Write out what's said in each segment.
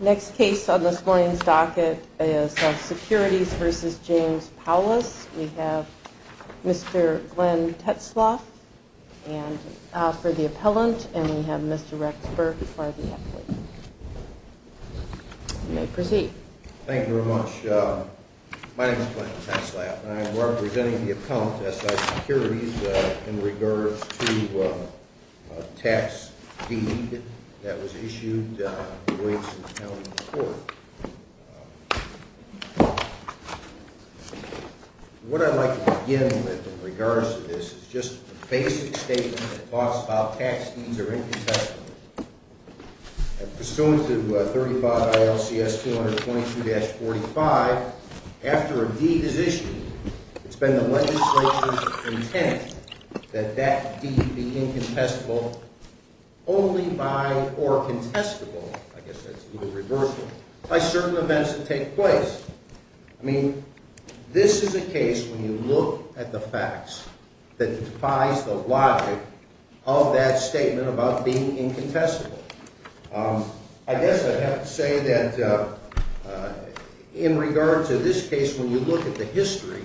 Next case on this morning's docket is S.I. Securities v. James Powless. We have Mr. Glenn Tetzlaff for the appellant, and we have Mr. Rex Burke for the applicant. You may proceed. Thank you very much. My name is Glenn Tetzlaff, and I am representing the appellant, S.I. Securities, in regards to a tax deed that was issued in the Williamson County Court. What I'd like to begin with in regards to this is just a basic statement that talks about tax deeds are incontestable. Pursuant to 35 ILCS 222-45, after a deed is issued, it's been the legislature's intent that that deed be incontestable only by, or contestable, I guess that's the word, reversal, by certain events that take place. I mean, this is a case, when you look at the facts, that defies the logic of that statement about being incontestable. I guess I have to say that in regards to this case, when you look at the history,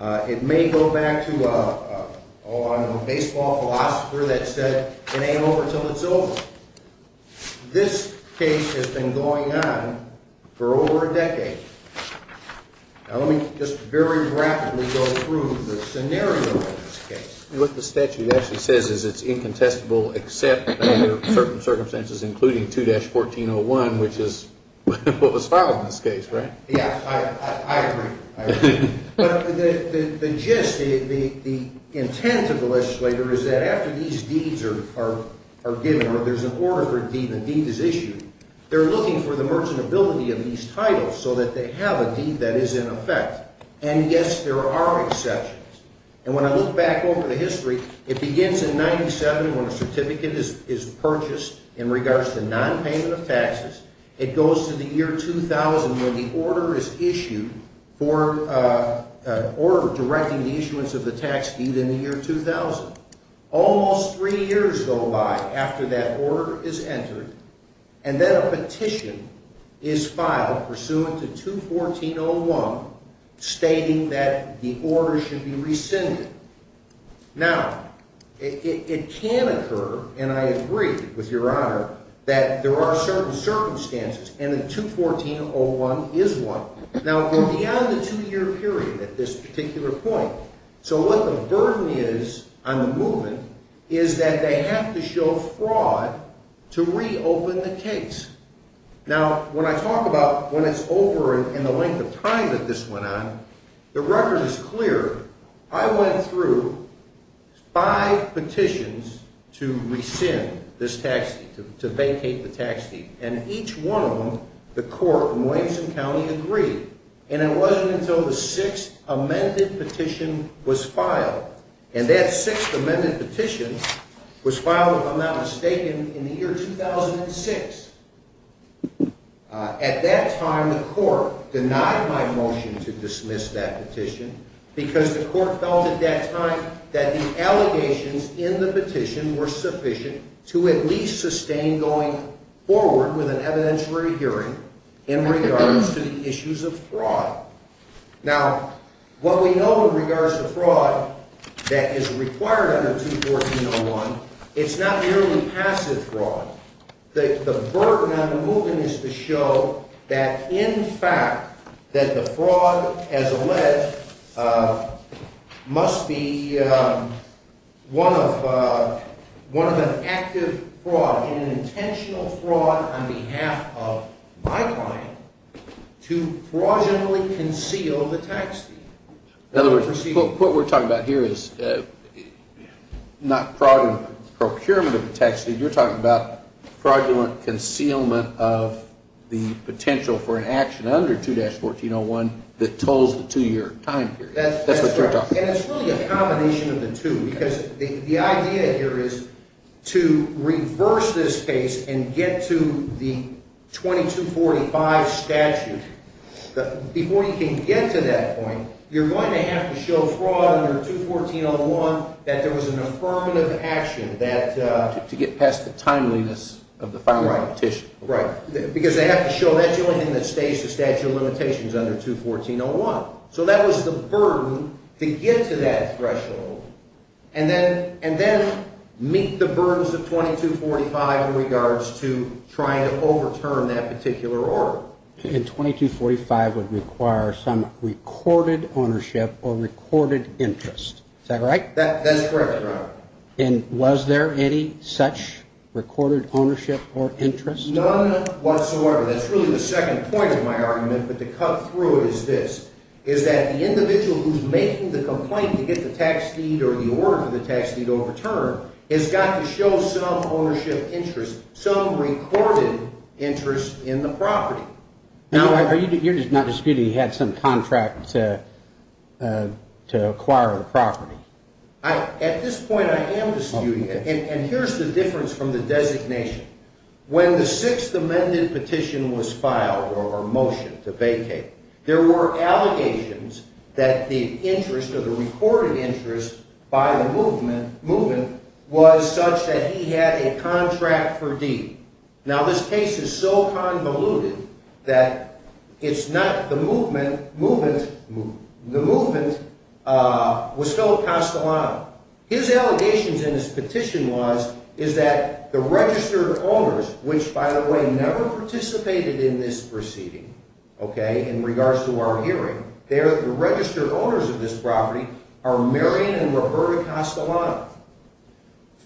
it may go back to a baseball philosopher that said, it ain't over till it's over. This case has been going on for over a decade. Now let me just very rapidly go through the scenario of this case. What the statute actually says is it's incontestable except under certain circumstances, including 2-1401, which is what was filed in this case, right? Yes, I agree. I agree. But the gist, the intent of the legislature is that after these deeds are given or there's an order for a deed and a deed is issued, they're looking for the merchantability of these titles so that they have a deed that is in effect. And yes, there are exceptions. And when I look back over the history, it begins in 97 when a certificate is purchased in regards to nonpayment of taxes. It goes to the year 2000 when the order is issued for, or directing the issuance of the tax deed in the year 2000. Almost three years go by after that order is entered, and then a petition is filed pursuant to 21401 stating that the order should be rescinded. Now, it can occur, and I agree with Your Honor, that there are certain circumstances and that 21401 is one. Now, we're beyond the two-year period at this particular point. So what the burden is on the movement is that they have to show fraud to reopen the case. Now, when I talk about when it's over and the length of time that this went on, the record is clear. I went through five petitions to rescind this tax deed, to vacate the tax deed, and each one of them, the court in Williamson County agreed. And it wasn't until the sixth amended petition was filed, and that sixth amended petition was filed, if I'm not mistaken, in the year 2006. At that time, the court denied my motion to dismiss that petition because the court felt at that time that the allegations in the petition were sufficient to at least sustain going forward with an evidentiary hearing in regards to the issues of fraud. Now, what we know in regards to fraud that is required under 21401, it's not merely passive fraud. The burden on the movement is to show that, in fact, that the fraud, as alleged, must be one of an active fraud, an intentional fraud on behalf of my client to fraudulently conceal the tax deed. In other words, what we're talking about here is not fraudulent procurement of the tax deed. You're talking about fraudulent concealment of the potential for an action under 2-1401 that tolls the two-year time period. That's what you're talking about. And it's really a combination of the two, because the idea here is to reverse this case and get to the 2245 statute. Before you can get to that point, you're going to have to show fraud under 21401 that there was an affirmative action that… To get past the timeliness of the filing of the petition. Right. Because they have to show that's the only thing that stays the statute of limitations under 21401. So that was the burden to get to that threshold and then meet the burdens of 2245 in regards to trying to overturn that particular order. And 2245 would require some recorded ownership or recorded interest. Is that right? That's correct, Your Honor. And was there any such recorded ownership or interest? None whatsoever. That's really the second point of my argument, but to cut through it is this, is that the individual who's making the complaint to get the tax deed or the order for the tax deed overturned has got to show some ownership interest, some recorded interest in the property. Now, you're not disputing he had some contract to acquire the property? At this point, I am disputing it. And here's the difference from the designation. When the Sixth Amendment petition was filed or motioned to vacate, there were allegations that the interest or the recorded interest by the movement was such that he had a contract for deed. Now, this case is so convoluted that it's not the movement. The movement was Philip Castellano. His allegations in his petition was is that the registered owners, which, by the way, never participated in this proceeding, okay, in regards to our hearing, the registered owners of this property are Marion and Roberta Castellano.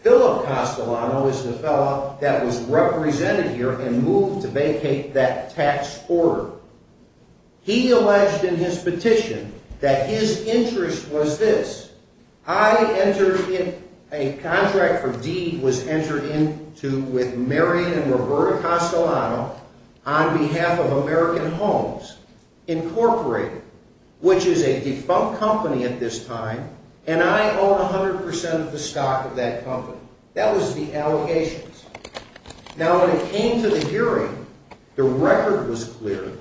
Philip Castellano is the fellow that was represented here and moved to vacate that tax order. He alleged in his petition that his interest was this. A contract for deed was entered into with Marion and Roberta Castellano on behalf of American Homes Incorporated, which is a defunct company at this time, and I own 100 percent of the stock of that company. That was the allegations. Now, when it came to the hearing, the record was clear.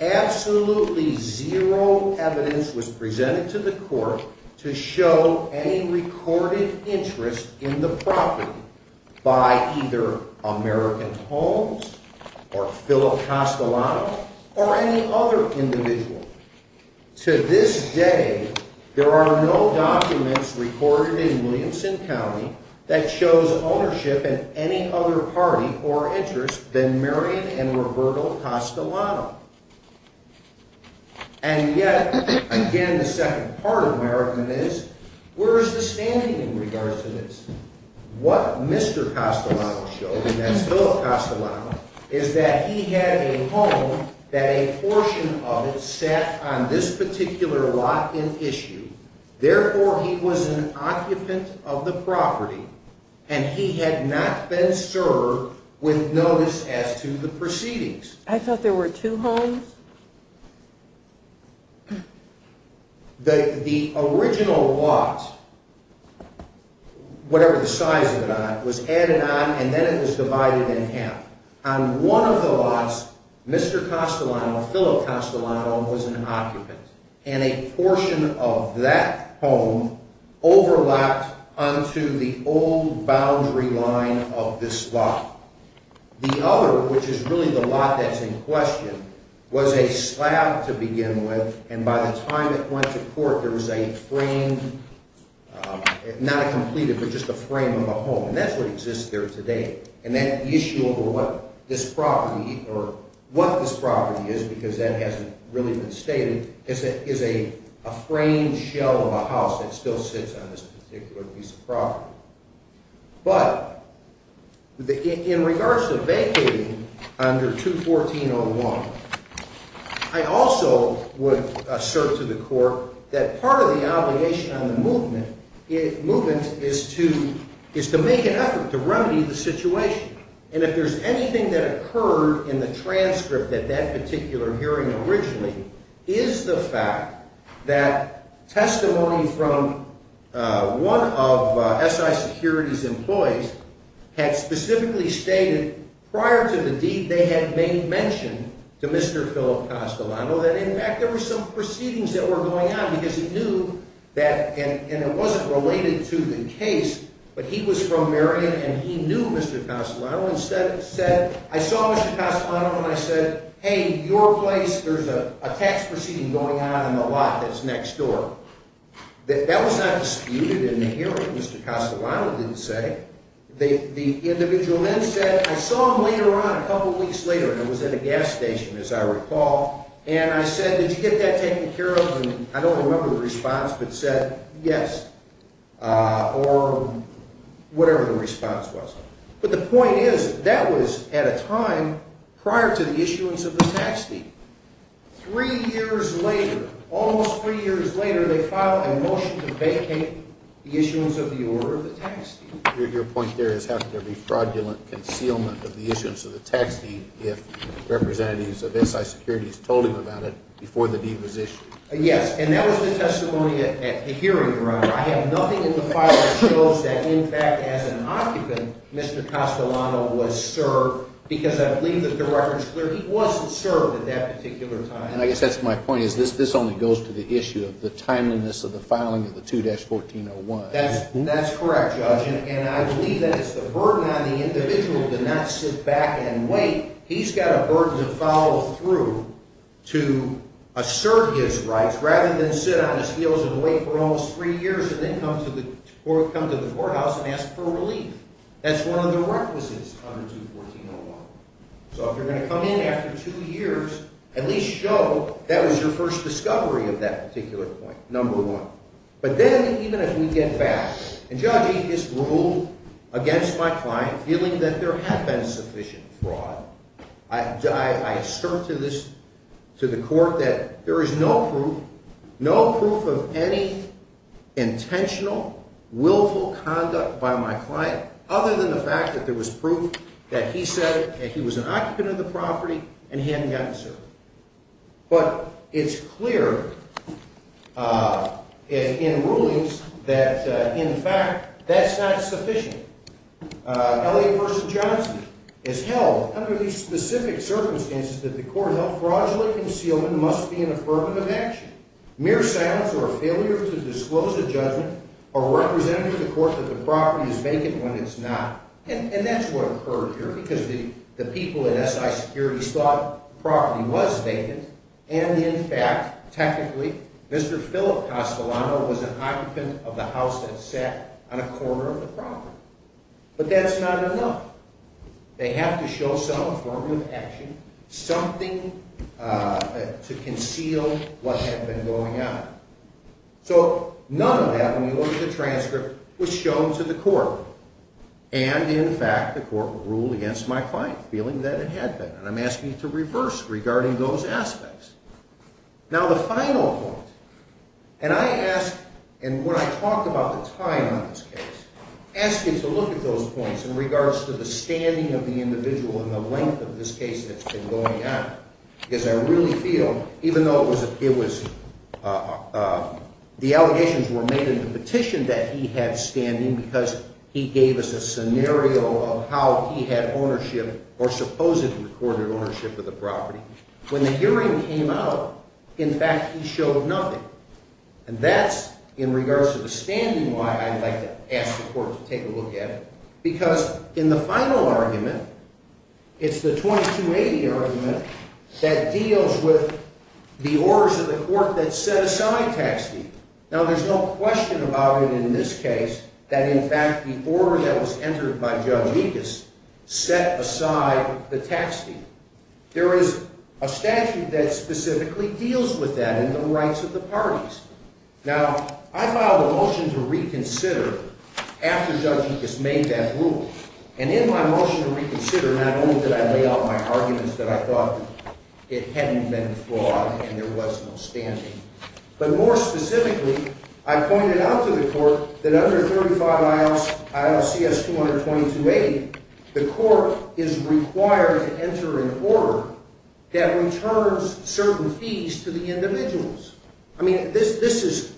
Absolutely zero evidence was presented to the court to show any recorded interest in the property by either American Homes or Philip Castellano or any other individual. To this day, there are no documents recorded in Williamson County that shows ownership in any other party or interest than Marion and Roberta Castellano. And yet, again, the second part of my argument is, where is the standing in regards to this? What Mr. Castellano showed, and that's Philip Castellano, is that he had a home that a portion of it sat on this particular lot in issue. Therefore, he was an occupant of the property, and he had not been served with notice as to the proceedings. I thought there were two homes. The original lot, whatever the size of the lot, was added on, and then it was divided in half. On one of the lots, Mr. Castellano, Philip Castellano, was an occupant, and a portion of that home overlapped onto the old boundary line of this lot. The other, which is really the lot that's in question, was a slab to begin with, and by the time it went to court, there was a framed, not a completed, but just a frame of a home. And that's what exists there today. And that issue over what this property is, because that hasn't really been stated, is a framed shell of a house that still sits on this particular piece of property. But in regards to vacating under 214.01, I also would assert to the court that part of the obligation on the movement is to make an effort to remedy the situation. And if there's anything that occurred in the transcript at that particular hearing originally is the fact that testimony from one of SI Security's employees had specifically stated prior to the deed they had made mention to Mr. Philip Castellano that in fact there were some proceedings that were going on because he knew that, and it wasn't related to the case, but he was from Marion and he knew Mr. Castellano and said, I saw Mr. Castellano and I said, hey, your place, there's a tax proceeding going on in the lot that's next door. That was not disputed in the hearing, Mr. Castellano didn't say. The individual then said, I saw him later on, a couple weeks later, and it was at a gas station, as I recall, and I said, did you get that taken care of? And I don't remember the response, but said, yes, or whatever the response was. But the point is, that was at a time prior to the issuance of the tax deed. Three years later, almost three years later, they filed a motion to vacate the issuance of the order of the tax deed. Your point there is how could there be fraudulent concealment of the issuance of the tax deed if representatives of SI Security had told him about it before the deed was issued? Yes, and that was the testimony at the hearing, Your Honor. I have nothing in the file that shows that, in fact, as an occupant, Mr. Castellano was served, because I believe that the record is clear, he wasn't served at that particular time. And I guess that's my point, is this only goes to the issue of the timeliness of the filing of the 2-1401. That's correct, Judge, and I believe that it's the burden on the individual to not sit back and wait. He's got a burden to follow through to assert his rights rather than sit on his heels and wait for almost three years and then come to the courthouse and ask for relief. That's one of the requisites under 2-1401. So if you're going to come in after two years, at least show that was your first discovery of that particular point, number one. But then even if we get back, and, Judge, he just ruled against my client feeling that there had been sufficient fraud. I assert to the court that there is no proof, no proof of any intentional, willful conduct by my client other than the fact that there was proof that he said he was an occupant of the property and he hadn't gotten served. But it's clear in rulings that, in fact, that's not sufficient. L.A. v. Johnson has held under these specific circumstances that the court held fraudulent concealment must be an affirmative action. Mere silence or failure to disclose a judgment are representative of the court that the property is vacant when it's not. And that's what occurred here because the people at S.I. Securities thought the property was vacant. And, in fact, technically, Mr. Philip Castellano was an occupant of the house that sat on a corner of the property. But that's not enough. They have to show some affirmative action, something to conceal what had been going on. So none of that, when you look at the transcript, was shown to the court. And, in fact, the court ruled against my client feeling that it had been. And I'm asking you to reverse regarding those aspects. Now, the final point, and I ask, and when I talk about the time on this case, ask you to look at those points in regards to the standing of the individual and the length of this case that's been going on. Because I really feel, even though it was – the allegations were made in the petition that he had standing because he gave us a scenario of how he had ownership or supposedly recorded ownership of the property. When the hearing came out, in fact, he showed nothing. And that's, in regards to the standing, why I'd like to ask the court to take a look at it. Because, in the final argument, it's the 2280 argument that deals with the orders of the court that set aside tax deal. Now, there's no question about it in this case that, in fact, the order that was entered by Judge Mekas set aside the tax deal. There is a statute that specifically deals with that in the rights of the parties. Now, I filed a motion to reconsider after Judge Mekas made that rule. And in my motion to reconsider, not only did I lay out my arguments that I thought it hadn't been flawed and there was no standing. But more specifically, I pointed out to the court that under 35 ILCS 2280, the court is required to enter an order that returns certain fees to the individuals. I mean, this is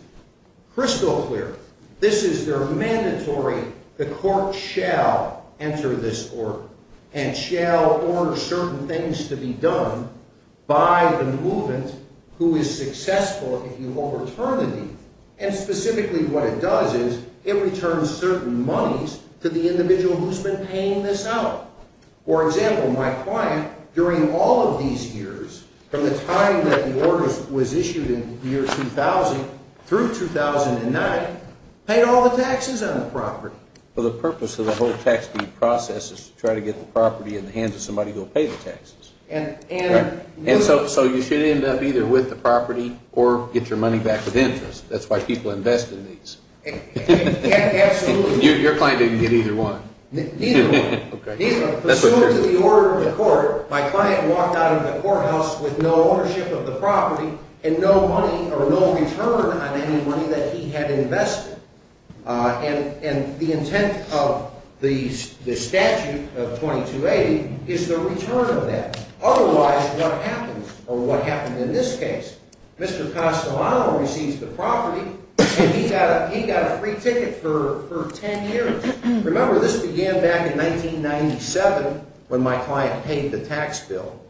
crystal clear. This is their mandatory. The court shall enter this order and shall order certain things to be done by the movement who is successful if you overturn the deed. And specifically what it does is it returns certain monies to the individual who's been paying this out. For example, my client, during all of these years, from the time that the order was issued in the year 2000 through 2009, paid all the taxes on the property. Well, the purpose of the whole tax deed process is to try to get the property in the hands of somebody who will pay the taxes. And so you should end up either with the property or get your money back with interest. That's why people invest in these. Absolutely. Your client didn't get either one. Okay. Pursuant to the order of the court, my client walked out of the courthouse with no ownership of the property and no money or no return on any money that he had invested. And the intent of the statute of 2280 is the return of that. Otherwise, what happens, or what happened in this case, Mr. Castellano receives the property and he got a free ticket for 10 years. Remember, this began back in 1997 when my client paid the tax bill.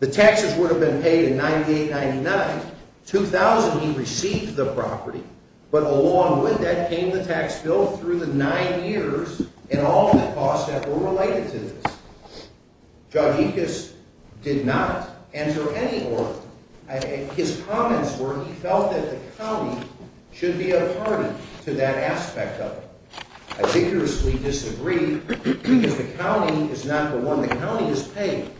The taxes would have been paid in 98-99. 2000, he received the property. But along with that came the tax bill through the nine years and all the costs that were related to this. Jaudicus did not enter any order. His comments were he felt that the county should be a party to that aspect of it. I vigorously disagree because the county is not the one. The county is paid.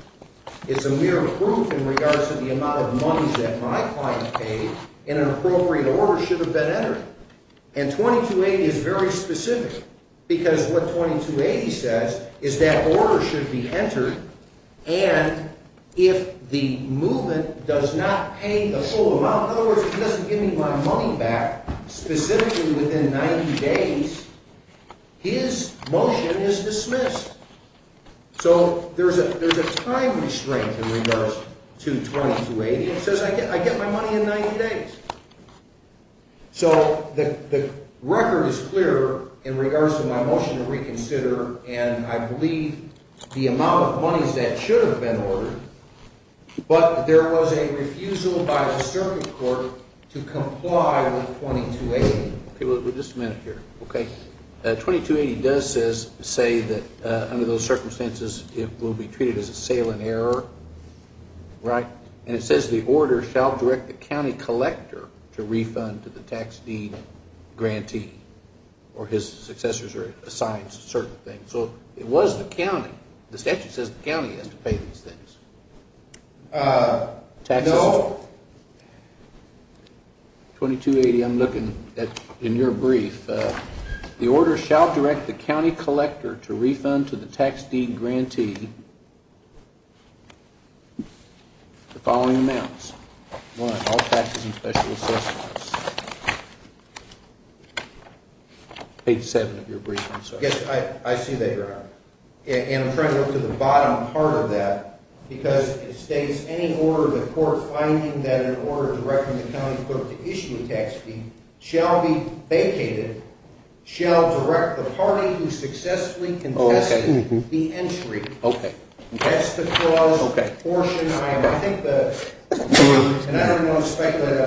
It's a mere proof in regards to the amount of money that my client paid, and an appropriate order should have been entered. And 2280 is very specific because what 2280 says is that order should be entered, and if the movement does not pay the full amount, in other words, it doesn't give me my money back, specifically within 90 days, his motion is dismissed. So there's a time restraint in regards to 2280. It says I get my money in 90 days. So the record is clear in regards to my motion to reconsider, and I believe the amount of monies that should have been ordered, but there was a refusal by the circuit court to comply with 2280. Just a minute here. Okay. 2280 does say that under those circumstances it will be treated as a sale in error, right? And it says the order shall direct the county collector to refund to the tax deed grantee, or his successors are assigned certain things. So it was the county. The statute says the county has to pay these things. No. 2280, I'm looking at your brief. The order shall direct the county collector to refund to the tax deed grantee the following amounts. One, all taxes and special assessments. Page 7 of your brief, I'm sorry. I see that, Your Honor. And I'm trying to go to the bottom part of that, because it states any order of the court finding that an order directing the county collector to issue a tax deed shall be vacated, shall direct the party who successfully contested the entry. Okay. That's the clause. Okay. And I don't want to speculate.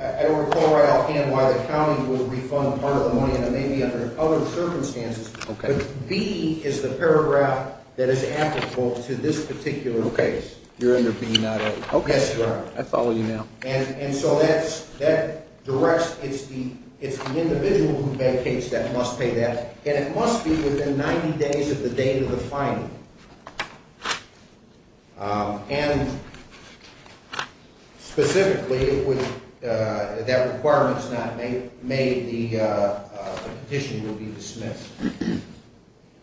I don't recall right offhand why the county would refund a part of the money, and it may be under other circumstances. Okay. But B is the paragraph that is applicable to this particular case. Okay. You're under B, not A. Yes, Your Honor. I follow you now. And so that directs, it's the individual who vacates that must pay that, and it must be within 90 days of the date of the finding. And specifically, if that requirement is not made, the petition will be dismissed.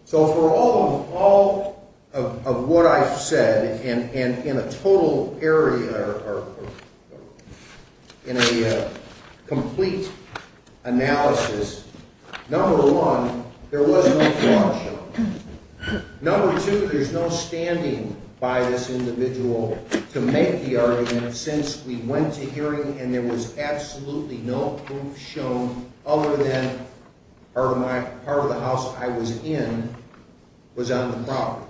So for all of what I've said, and in a total area or in a complete analysis, number one, there was no fraud shown. Number two, there's no standing by this individual to make the argument since we went to hearing and there was absolutely no proof shown other than part of the house I was in was on the property.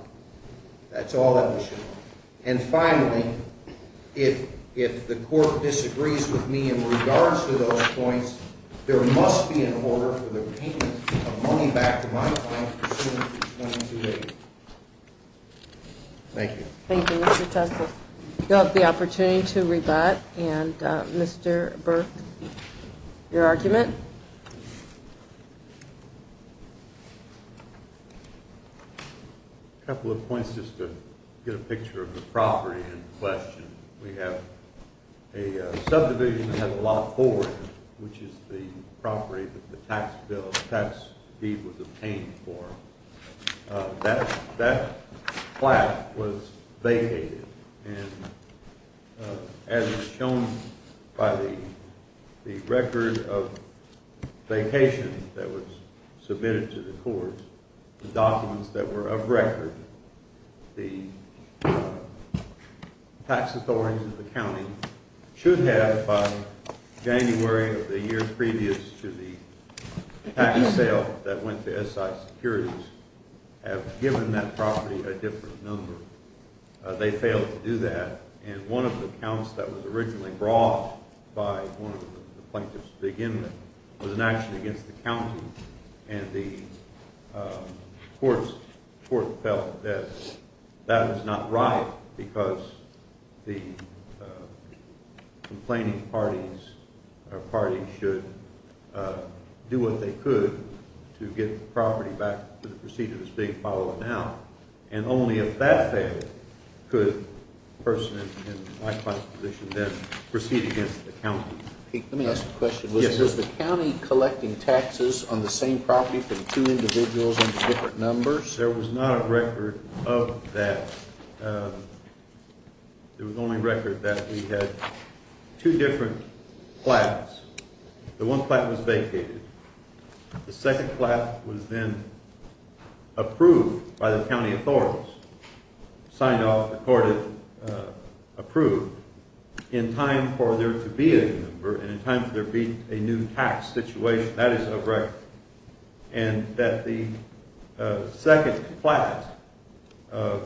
That's all that was shown. And finally, if the court disagrees with me in regards to those points, there must be an order for the payment of money back to my client as soon as it's 22 days. Thank you. Thank you, Mr. Teske. You'll have the opportunity to rebut. And, Mr. Burke, your argument? A couple of points just to get a picture of the property in question. We have a subdivision that has a lot of forward, which is the property that the tax bill, the tax fee was obtained for. That flat was vacated. And as shown by the record of vacation that was submitted to the court, the documents that were of record, the tax authorities of the county should have by January of the year previous to the tax sale that went to SI Securities, have given that property a different number. They failed to do that. And one of the counts that was originally brought by one of the plaintiffs to begin with was an action against the county. And the court felt that that was not right because the complaining parties or parties should do what they could to get the property back to the procedure that's being followed now. And only if that failed could a person in my client's position then proceed against the county. Let me ask a question. Yes, sir. Was the county collecting taxes on the same property for the two individuals under different numbers? There was not a record of that. There was only record that we had two different flats. The one flat was vacated. The second flat was then approved by the county authorities, signed off, accorded, approved in time for there to be a number and in time for there to be a new tax situation. That is a record. And that the second flat of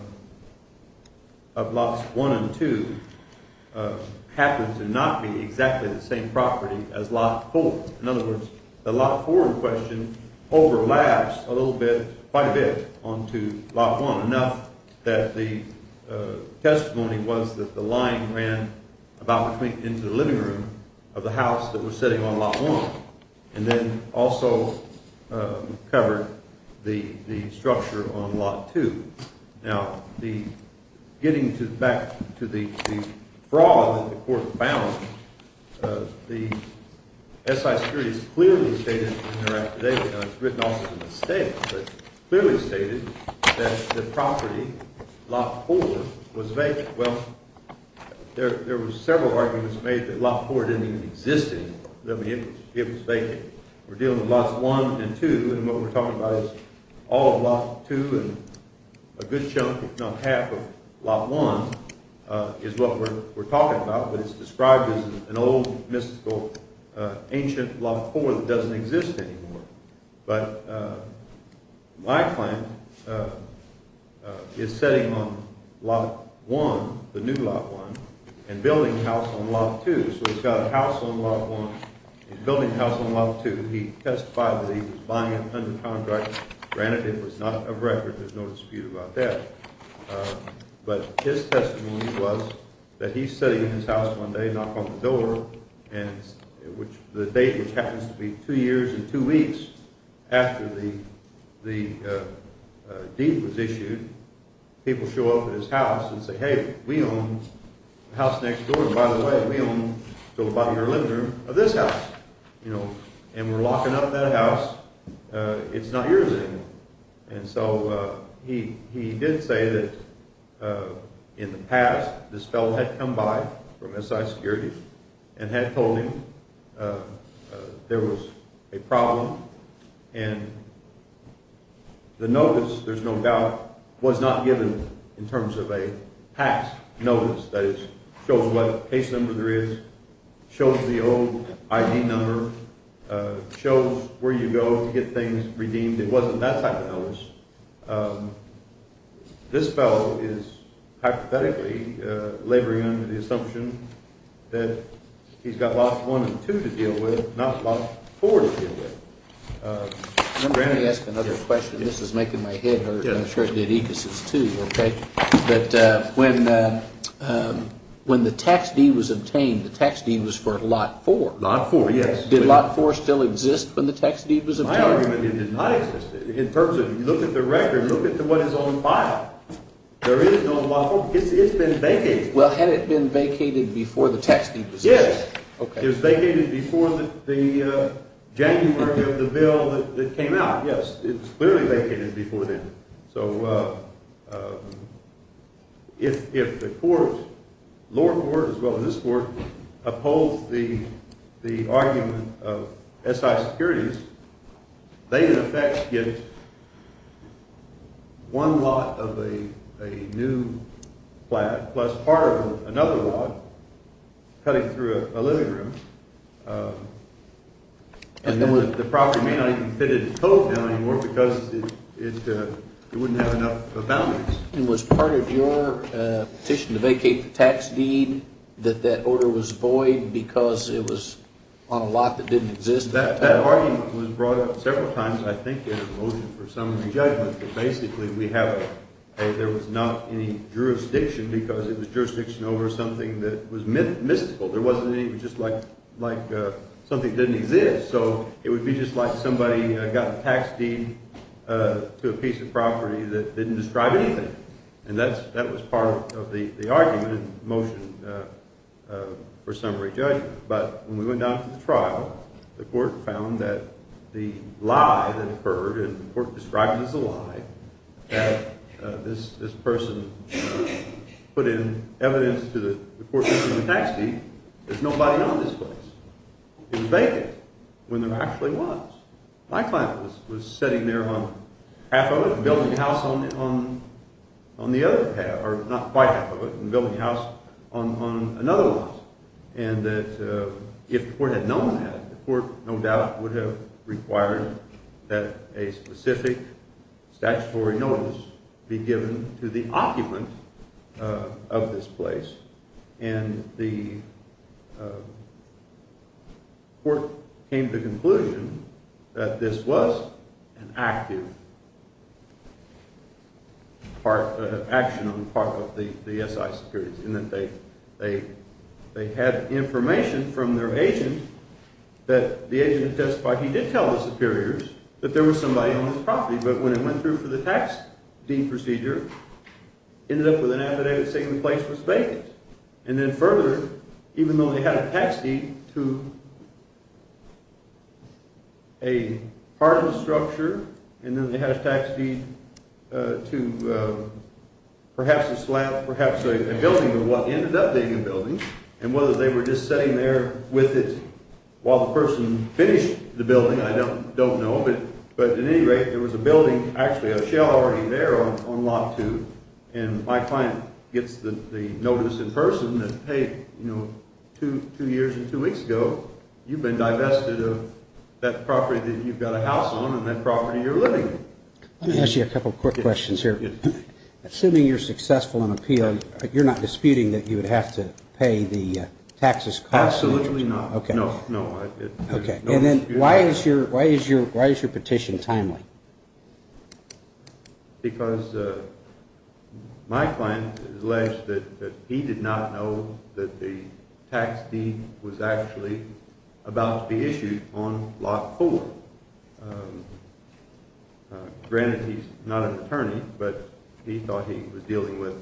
lots one and two happened to not be exactly the same property as lot four. In other words, the lot four in question overlaps a little bit, quite a bit, onto lot one enough that the testimony was that the line ran about between the ends of the living room of the house that was sitting on lot one and then also covered the structure on lot two. Now, getting back to the fraud that the court found, the S.I. securities clearly stated in their act today, and it's written off as a mistake, but clearly stated that the property, lot four, was vacant. Well, there were several arguments made that lot four didn't even exist. It was vacant. We're dealing with lots one and two, and what we're talking about is all of lot two and a good chunk, if not half, of lot one is what we're talking about, but it's described as an old, mystical, ancient lot four that doesn't exist anymore. But my client is sitting on lot one, the new lot one, and building a house on lot two. So he's got a house on lot one and building a house on lot two. He testified that he was buying it under contract. Granted, it was not a record. There's no dispute about that. But his testimony was that he's sitting in his house one day, knock on the door, and the date, which happens to be two years and two weeks after the deed was issued, people show up at his house and say, hey, we own the house next door. By the way, we own the bottom of your living room of this house, and we're locking up that house. It's not yours anymore. And so he did say that in the past this fellow had come by from SI Security and had told him there was a problem, and the notice, there's no doubt, was not given in terms of a past notice that shows what case number there is, shows the old ID number, shows where you go to get things redeemed. It wasn't that type of notice. This fellow is hypothetically laboring under the assumption that he's got lot one and two to deal with, not lot four to deal with. Let me ask another question. This is making my head hurt, and I'm sure it did Egas' too, okay? But when the tax deed was obtained, the tax deed was for lot four. Lot four, yes. Did lot four still exist when the tax deed was obtained? That argument did not exist. In terms of, you look at the record, look at what is on file. There is no lot four. It's been vacated. Well, had it been vacated before the tax deed was obtained? Yes. It was vacated before the January of the bill that came out, yes. It was clearly vacated before then. So if the court, lower court as well as this court, upholds the argument of SI securities, they in effect get one lot of a new flat plus part of another lot cutting through a living room. And then the property may not even fit in the code bill anymore because it wouldn't have enough boundaries. And was part of your petition to vacate the tax deed that that order was void because it was on a lot that didn't exist? That argument was brought up several times, I think, in a motion for summary judgment. But basically we have a, there was not any jurisdiction because it was jurisdiction over something that was mystical. There wasn't any just like something that didn't exist. So it would be just like somebody got a tax deed to a piece of property that didn't describe anything. And that was part of the argument in motion for summary judgment. But when we went down to the trial, the court found that the lie that occurred, and the court described it as a lie, that this person put in evidence to the court that there was no tax deed, there's nobody on this place. It was vacant when there actually was. My client was sitting there on half of it and building a house on the other half, or not quite half of it, and building a house on another lot. And that if the court had known that, the court no doubt would have required that a specific statutory notice be given to the occupant of this place. And the court came to the conclusion that this was an active action on the part of the SI superiors, in that they had information from their agent that the agent testified he did tell the superiors that there was somebody on this property. But when it went through for the tax deed procedure, it ended up with an affidavit saying the place was vacant. And then further, even though they had a tax deed to a part of the structure, and then they had a tax deed to perhaps a slab, perhaps a building of what ended up being a building, and whether they were just sitting there with it while the person finished the building, I don't know. But at any rate, there was a building, actually a shell already there on lot two. And my client gets the notice in person that, hey, you know, two years and two weeks ago, you've been divested of that property that you've got a house on and that property you're living in. Let me ask you a couple quick questions here. Assuming you're successful in appeal, you're not disputing that you would have to pay the taxes cost? Absolutely not. Okay. No, no. Okay. And then why is your petition timely? Because my client alleged that he did not know that the tax deed was actually about to be issued on lot four. Granted, he's not an attorney, but he thought he was dealing with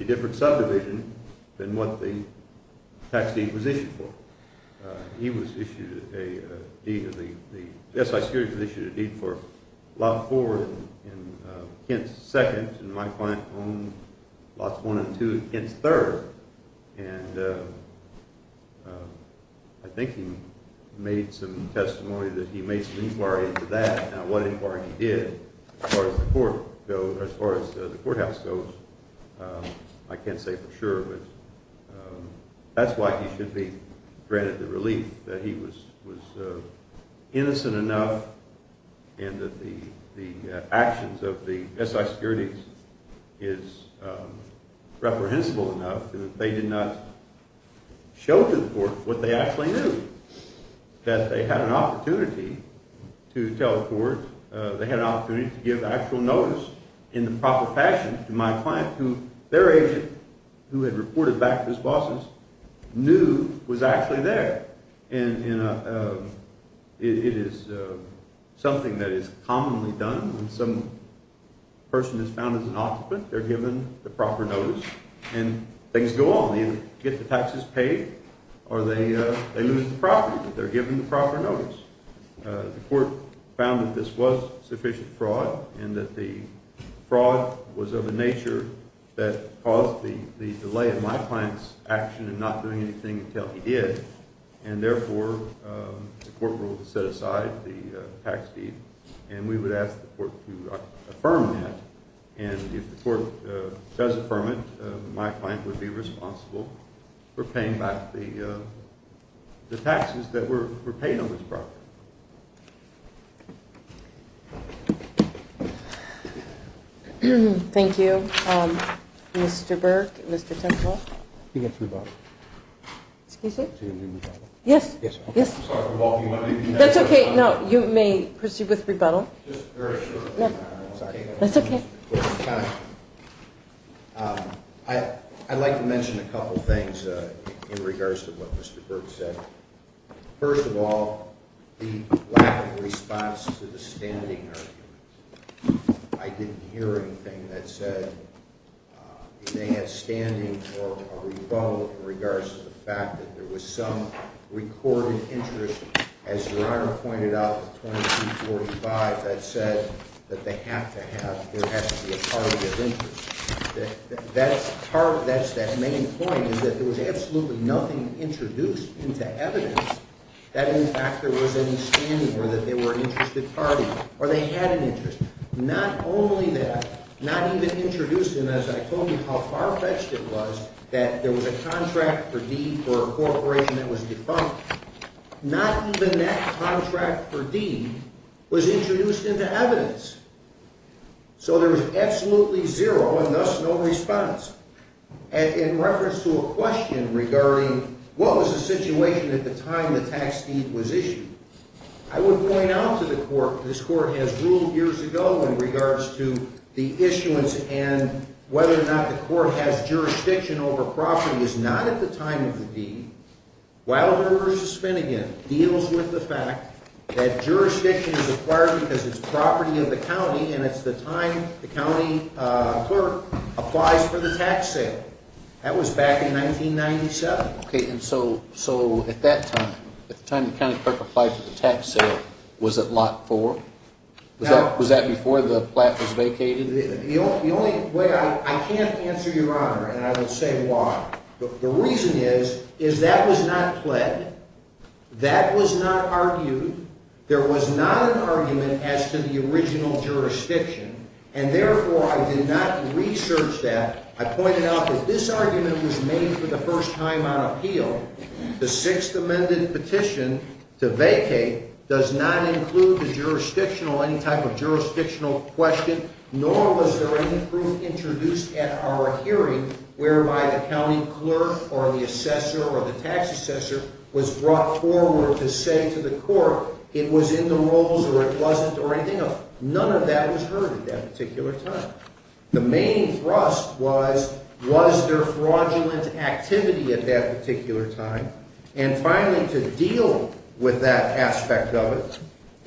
a different subdivision than what the tax deed was issued for. He was issued a deed for lot four in Kent's second, and my client owned lots one and two in Kent's third. And I think he made some testimony that he made some inquiry into that, and what inquiry he did as far as the courthouse goes, I can't say for sure. That's why he should be granted the relief that he was innocent enough and that the actions of the SI securities is reprehensible enough that they did not show to the court what they actually knew, that they had an opportunity to tell the court, they had an opportunity to give actual notice in the proper fashion to my client, who their agent, who had reported back to his bosses, knew was actually there. And it is something that is commonly done when some person is found as an occupant. They're given the proper notice, and things go on. They either get the taxes paid or they lose the property, but they're given the proper notice. The court found that this was sufficient fraud and that the fraud was of a nature that caused the delay in my client's action in not doing anything until he did, and therefore the court ruled to set aside the tax deed, and we would ask the court to affirm that. And if the court does affirm it, my client would be responsible for paying back the taxes that were paid on this property. Thank you, Mr. Burke, Mr. Temple. He gets rebuttal. Excuse me? He gets rebuttal. Yes, yes. I'm sorry for walking away. That's okay. No, you may proceed with rebuttal. Just very shortly. Sorry. That's okay. I'd like to mention a couple things in regards to what Mr. Burke said. First of all, the lack of response to the standing argument. I didn't hear anything that said he may have standing for a rebuttal in regards to the fact that there was some recorded interest, as Your Honor pointed out with 2245, that said that there has to be a party of interest. That's that main point, is that there was absolutely nothing introduced into evidence that in fact there was any standing or that they were an interested party or they had an interest. Not only that, not even introduced, and as I told you how far-fetched it was, that there was a contract for deed for a corporation that was defunct. Not even that contract for deed was introduced into evidence. So there was absolutely zero and thus no response. And in reference to a question regarding what was the situation at the time the tax deed was issued, I would point out to the court, this court has ruled years ago in regards to the issuance and whether or not the court has jurisdiction over property is not at the time of the deed. Wilder v. Finnegan deals with the fact that jurisdiction is acquired because it's property of the county and it's the time the county clerk applies for the tax sale. That was back in 1997. Okay, and so at that time, at the time the county clerk applied for the tax sale, was it lot 4? Was that before the plat was vacated? The only way I can't answer, Your Honor, and I will say why. The reason is, is that was not pled. That was not argued. There was not an argument as to the original jurisdiction, and therefore I did not research that. I pointed out that this argument was made for the first time on appeal. The Sixth Amendment petition to vacate does not include the jurisdictional, any type of jurisdictional question, nor was there any proof introduced at our hearing whereby the county clerk or the assessor or the tax assessor was brought forward to say to the court it was in the rules or it wasn't or anything. None of that was heard at that particular time. The main thrust was, was there fraudulent activity at that particular time? And finally, to deal with that aspect of it,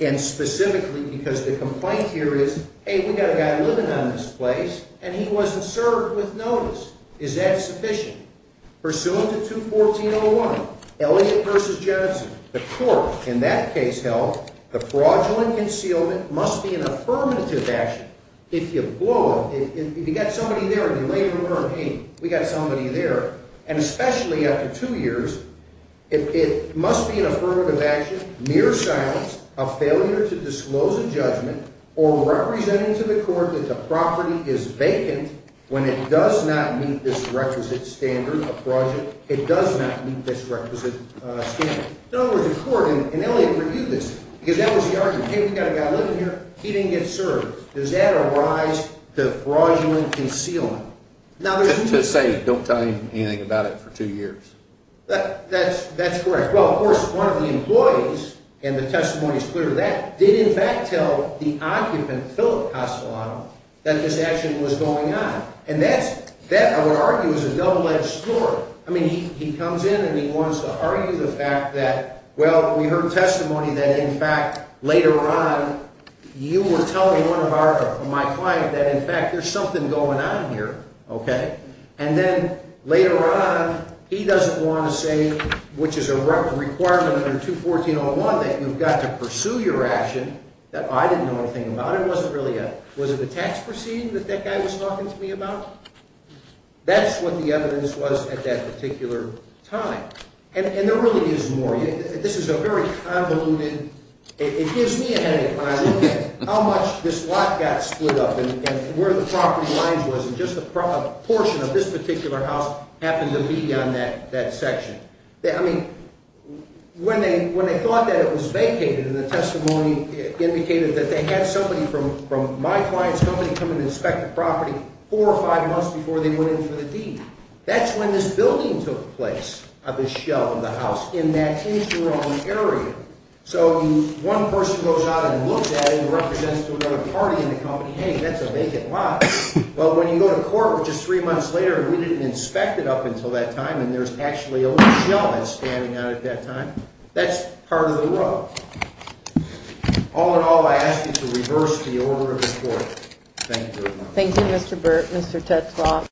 and specifically because the complaint here is, hey, we've got a guy living on this place and he wasn't served with notice. Is that sufficient? Pursuant to 214.01, Elliot v. Jensen, the court in that case held the fraudulent concealment must be an affirmative action. If you blow it, if you've got somebody there and you lay the rumor, hey, we've got somebody there, and especially after two years, it must be an affirmative action, mere silence, a failure to disclose a judgment, or representing to the court that the property is vacant when it does not meet this requisite standard of fraudulent, it does not meet this requisite standard. In other words, the court, and Elliot reviewed this, because that was the argument. Hey, we've got a guy living here, he didn't get served. Does that arise to fraudulent concealment? To say don't tell him anything about it for two years. That's correct. Well, of course, one of the employees, and the testimony is clear, that did in fact tell the occupant, Phillip Castellano, that this action was going on. And that, I would argue, is a double-edged sword. I mean, he comes in and he wants to argue the fact that, well, we heard testimony that, in fact, later on, you were telling one of my clients that, in fact, there's something going on here, okay? And then later on, he doesn't want to say, which is a requirement under 214.01, that you've got to pursue your action that I didn't know anything about. It wasn't really a tax proceeding that that guy was talking to me about. That's what the evidence was at that particular time. And there really is more. This is a very convoluted, it gives me a headache when I look at it, how much this lot got split up and where the property lines was, and just a portion of this particular house happened to be on that section. I mean, when they thought that it was vacated, and the testimony indicated that they had somebody from my client's company come and inspect the property four or five months before they went in for the deed, that's when this building took place, this shell in the house, in that interim area. So one person goes out and looks at it and represents to another party in the company, hey, that's a vacant lot. But when you go to court just three months later and we didn't inspect it up until that time and there's actually a shell that's standing out at that time, that's part of the rub. All in all, I ask you to reverse the order of the court. Thank you. Thank you, Mr. Burt, Mr. Tetzlaff.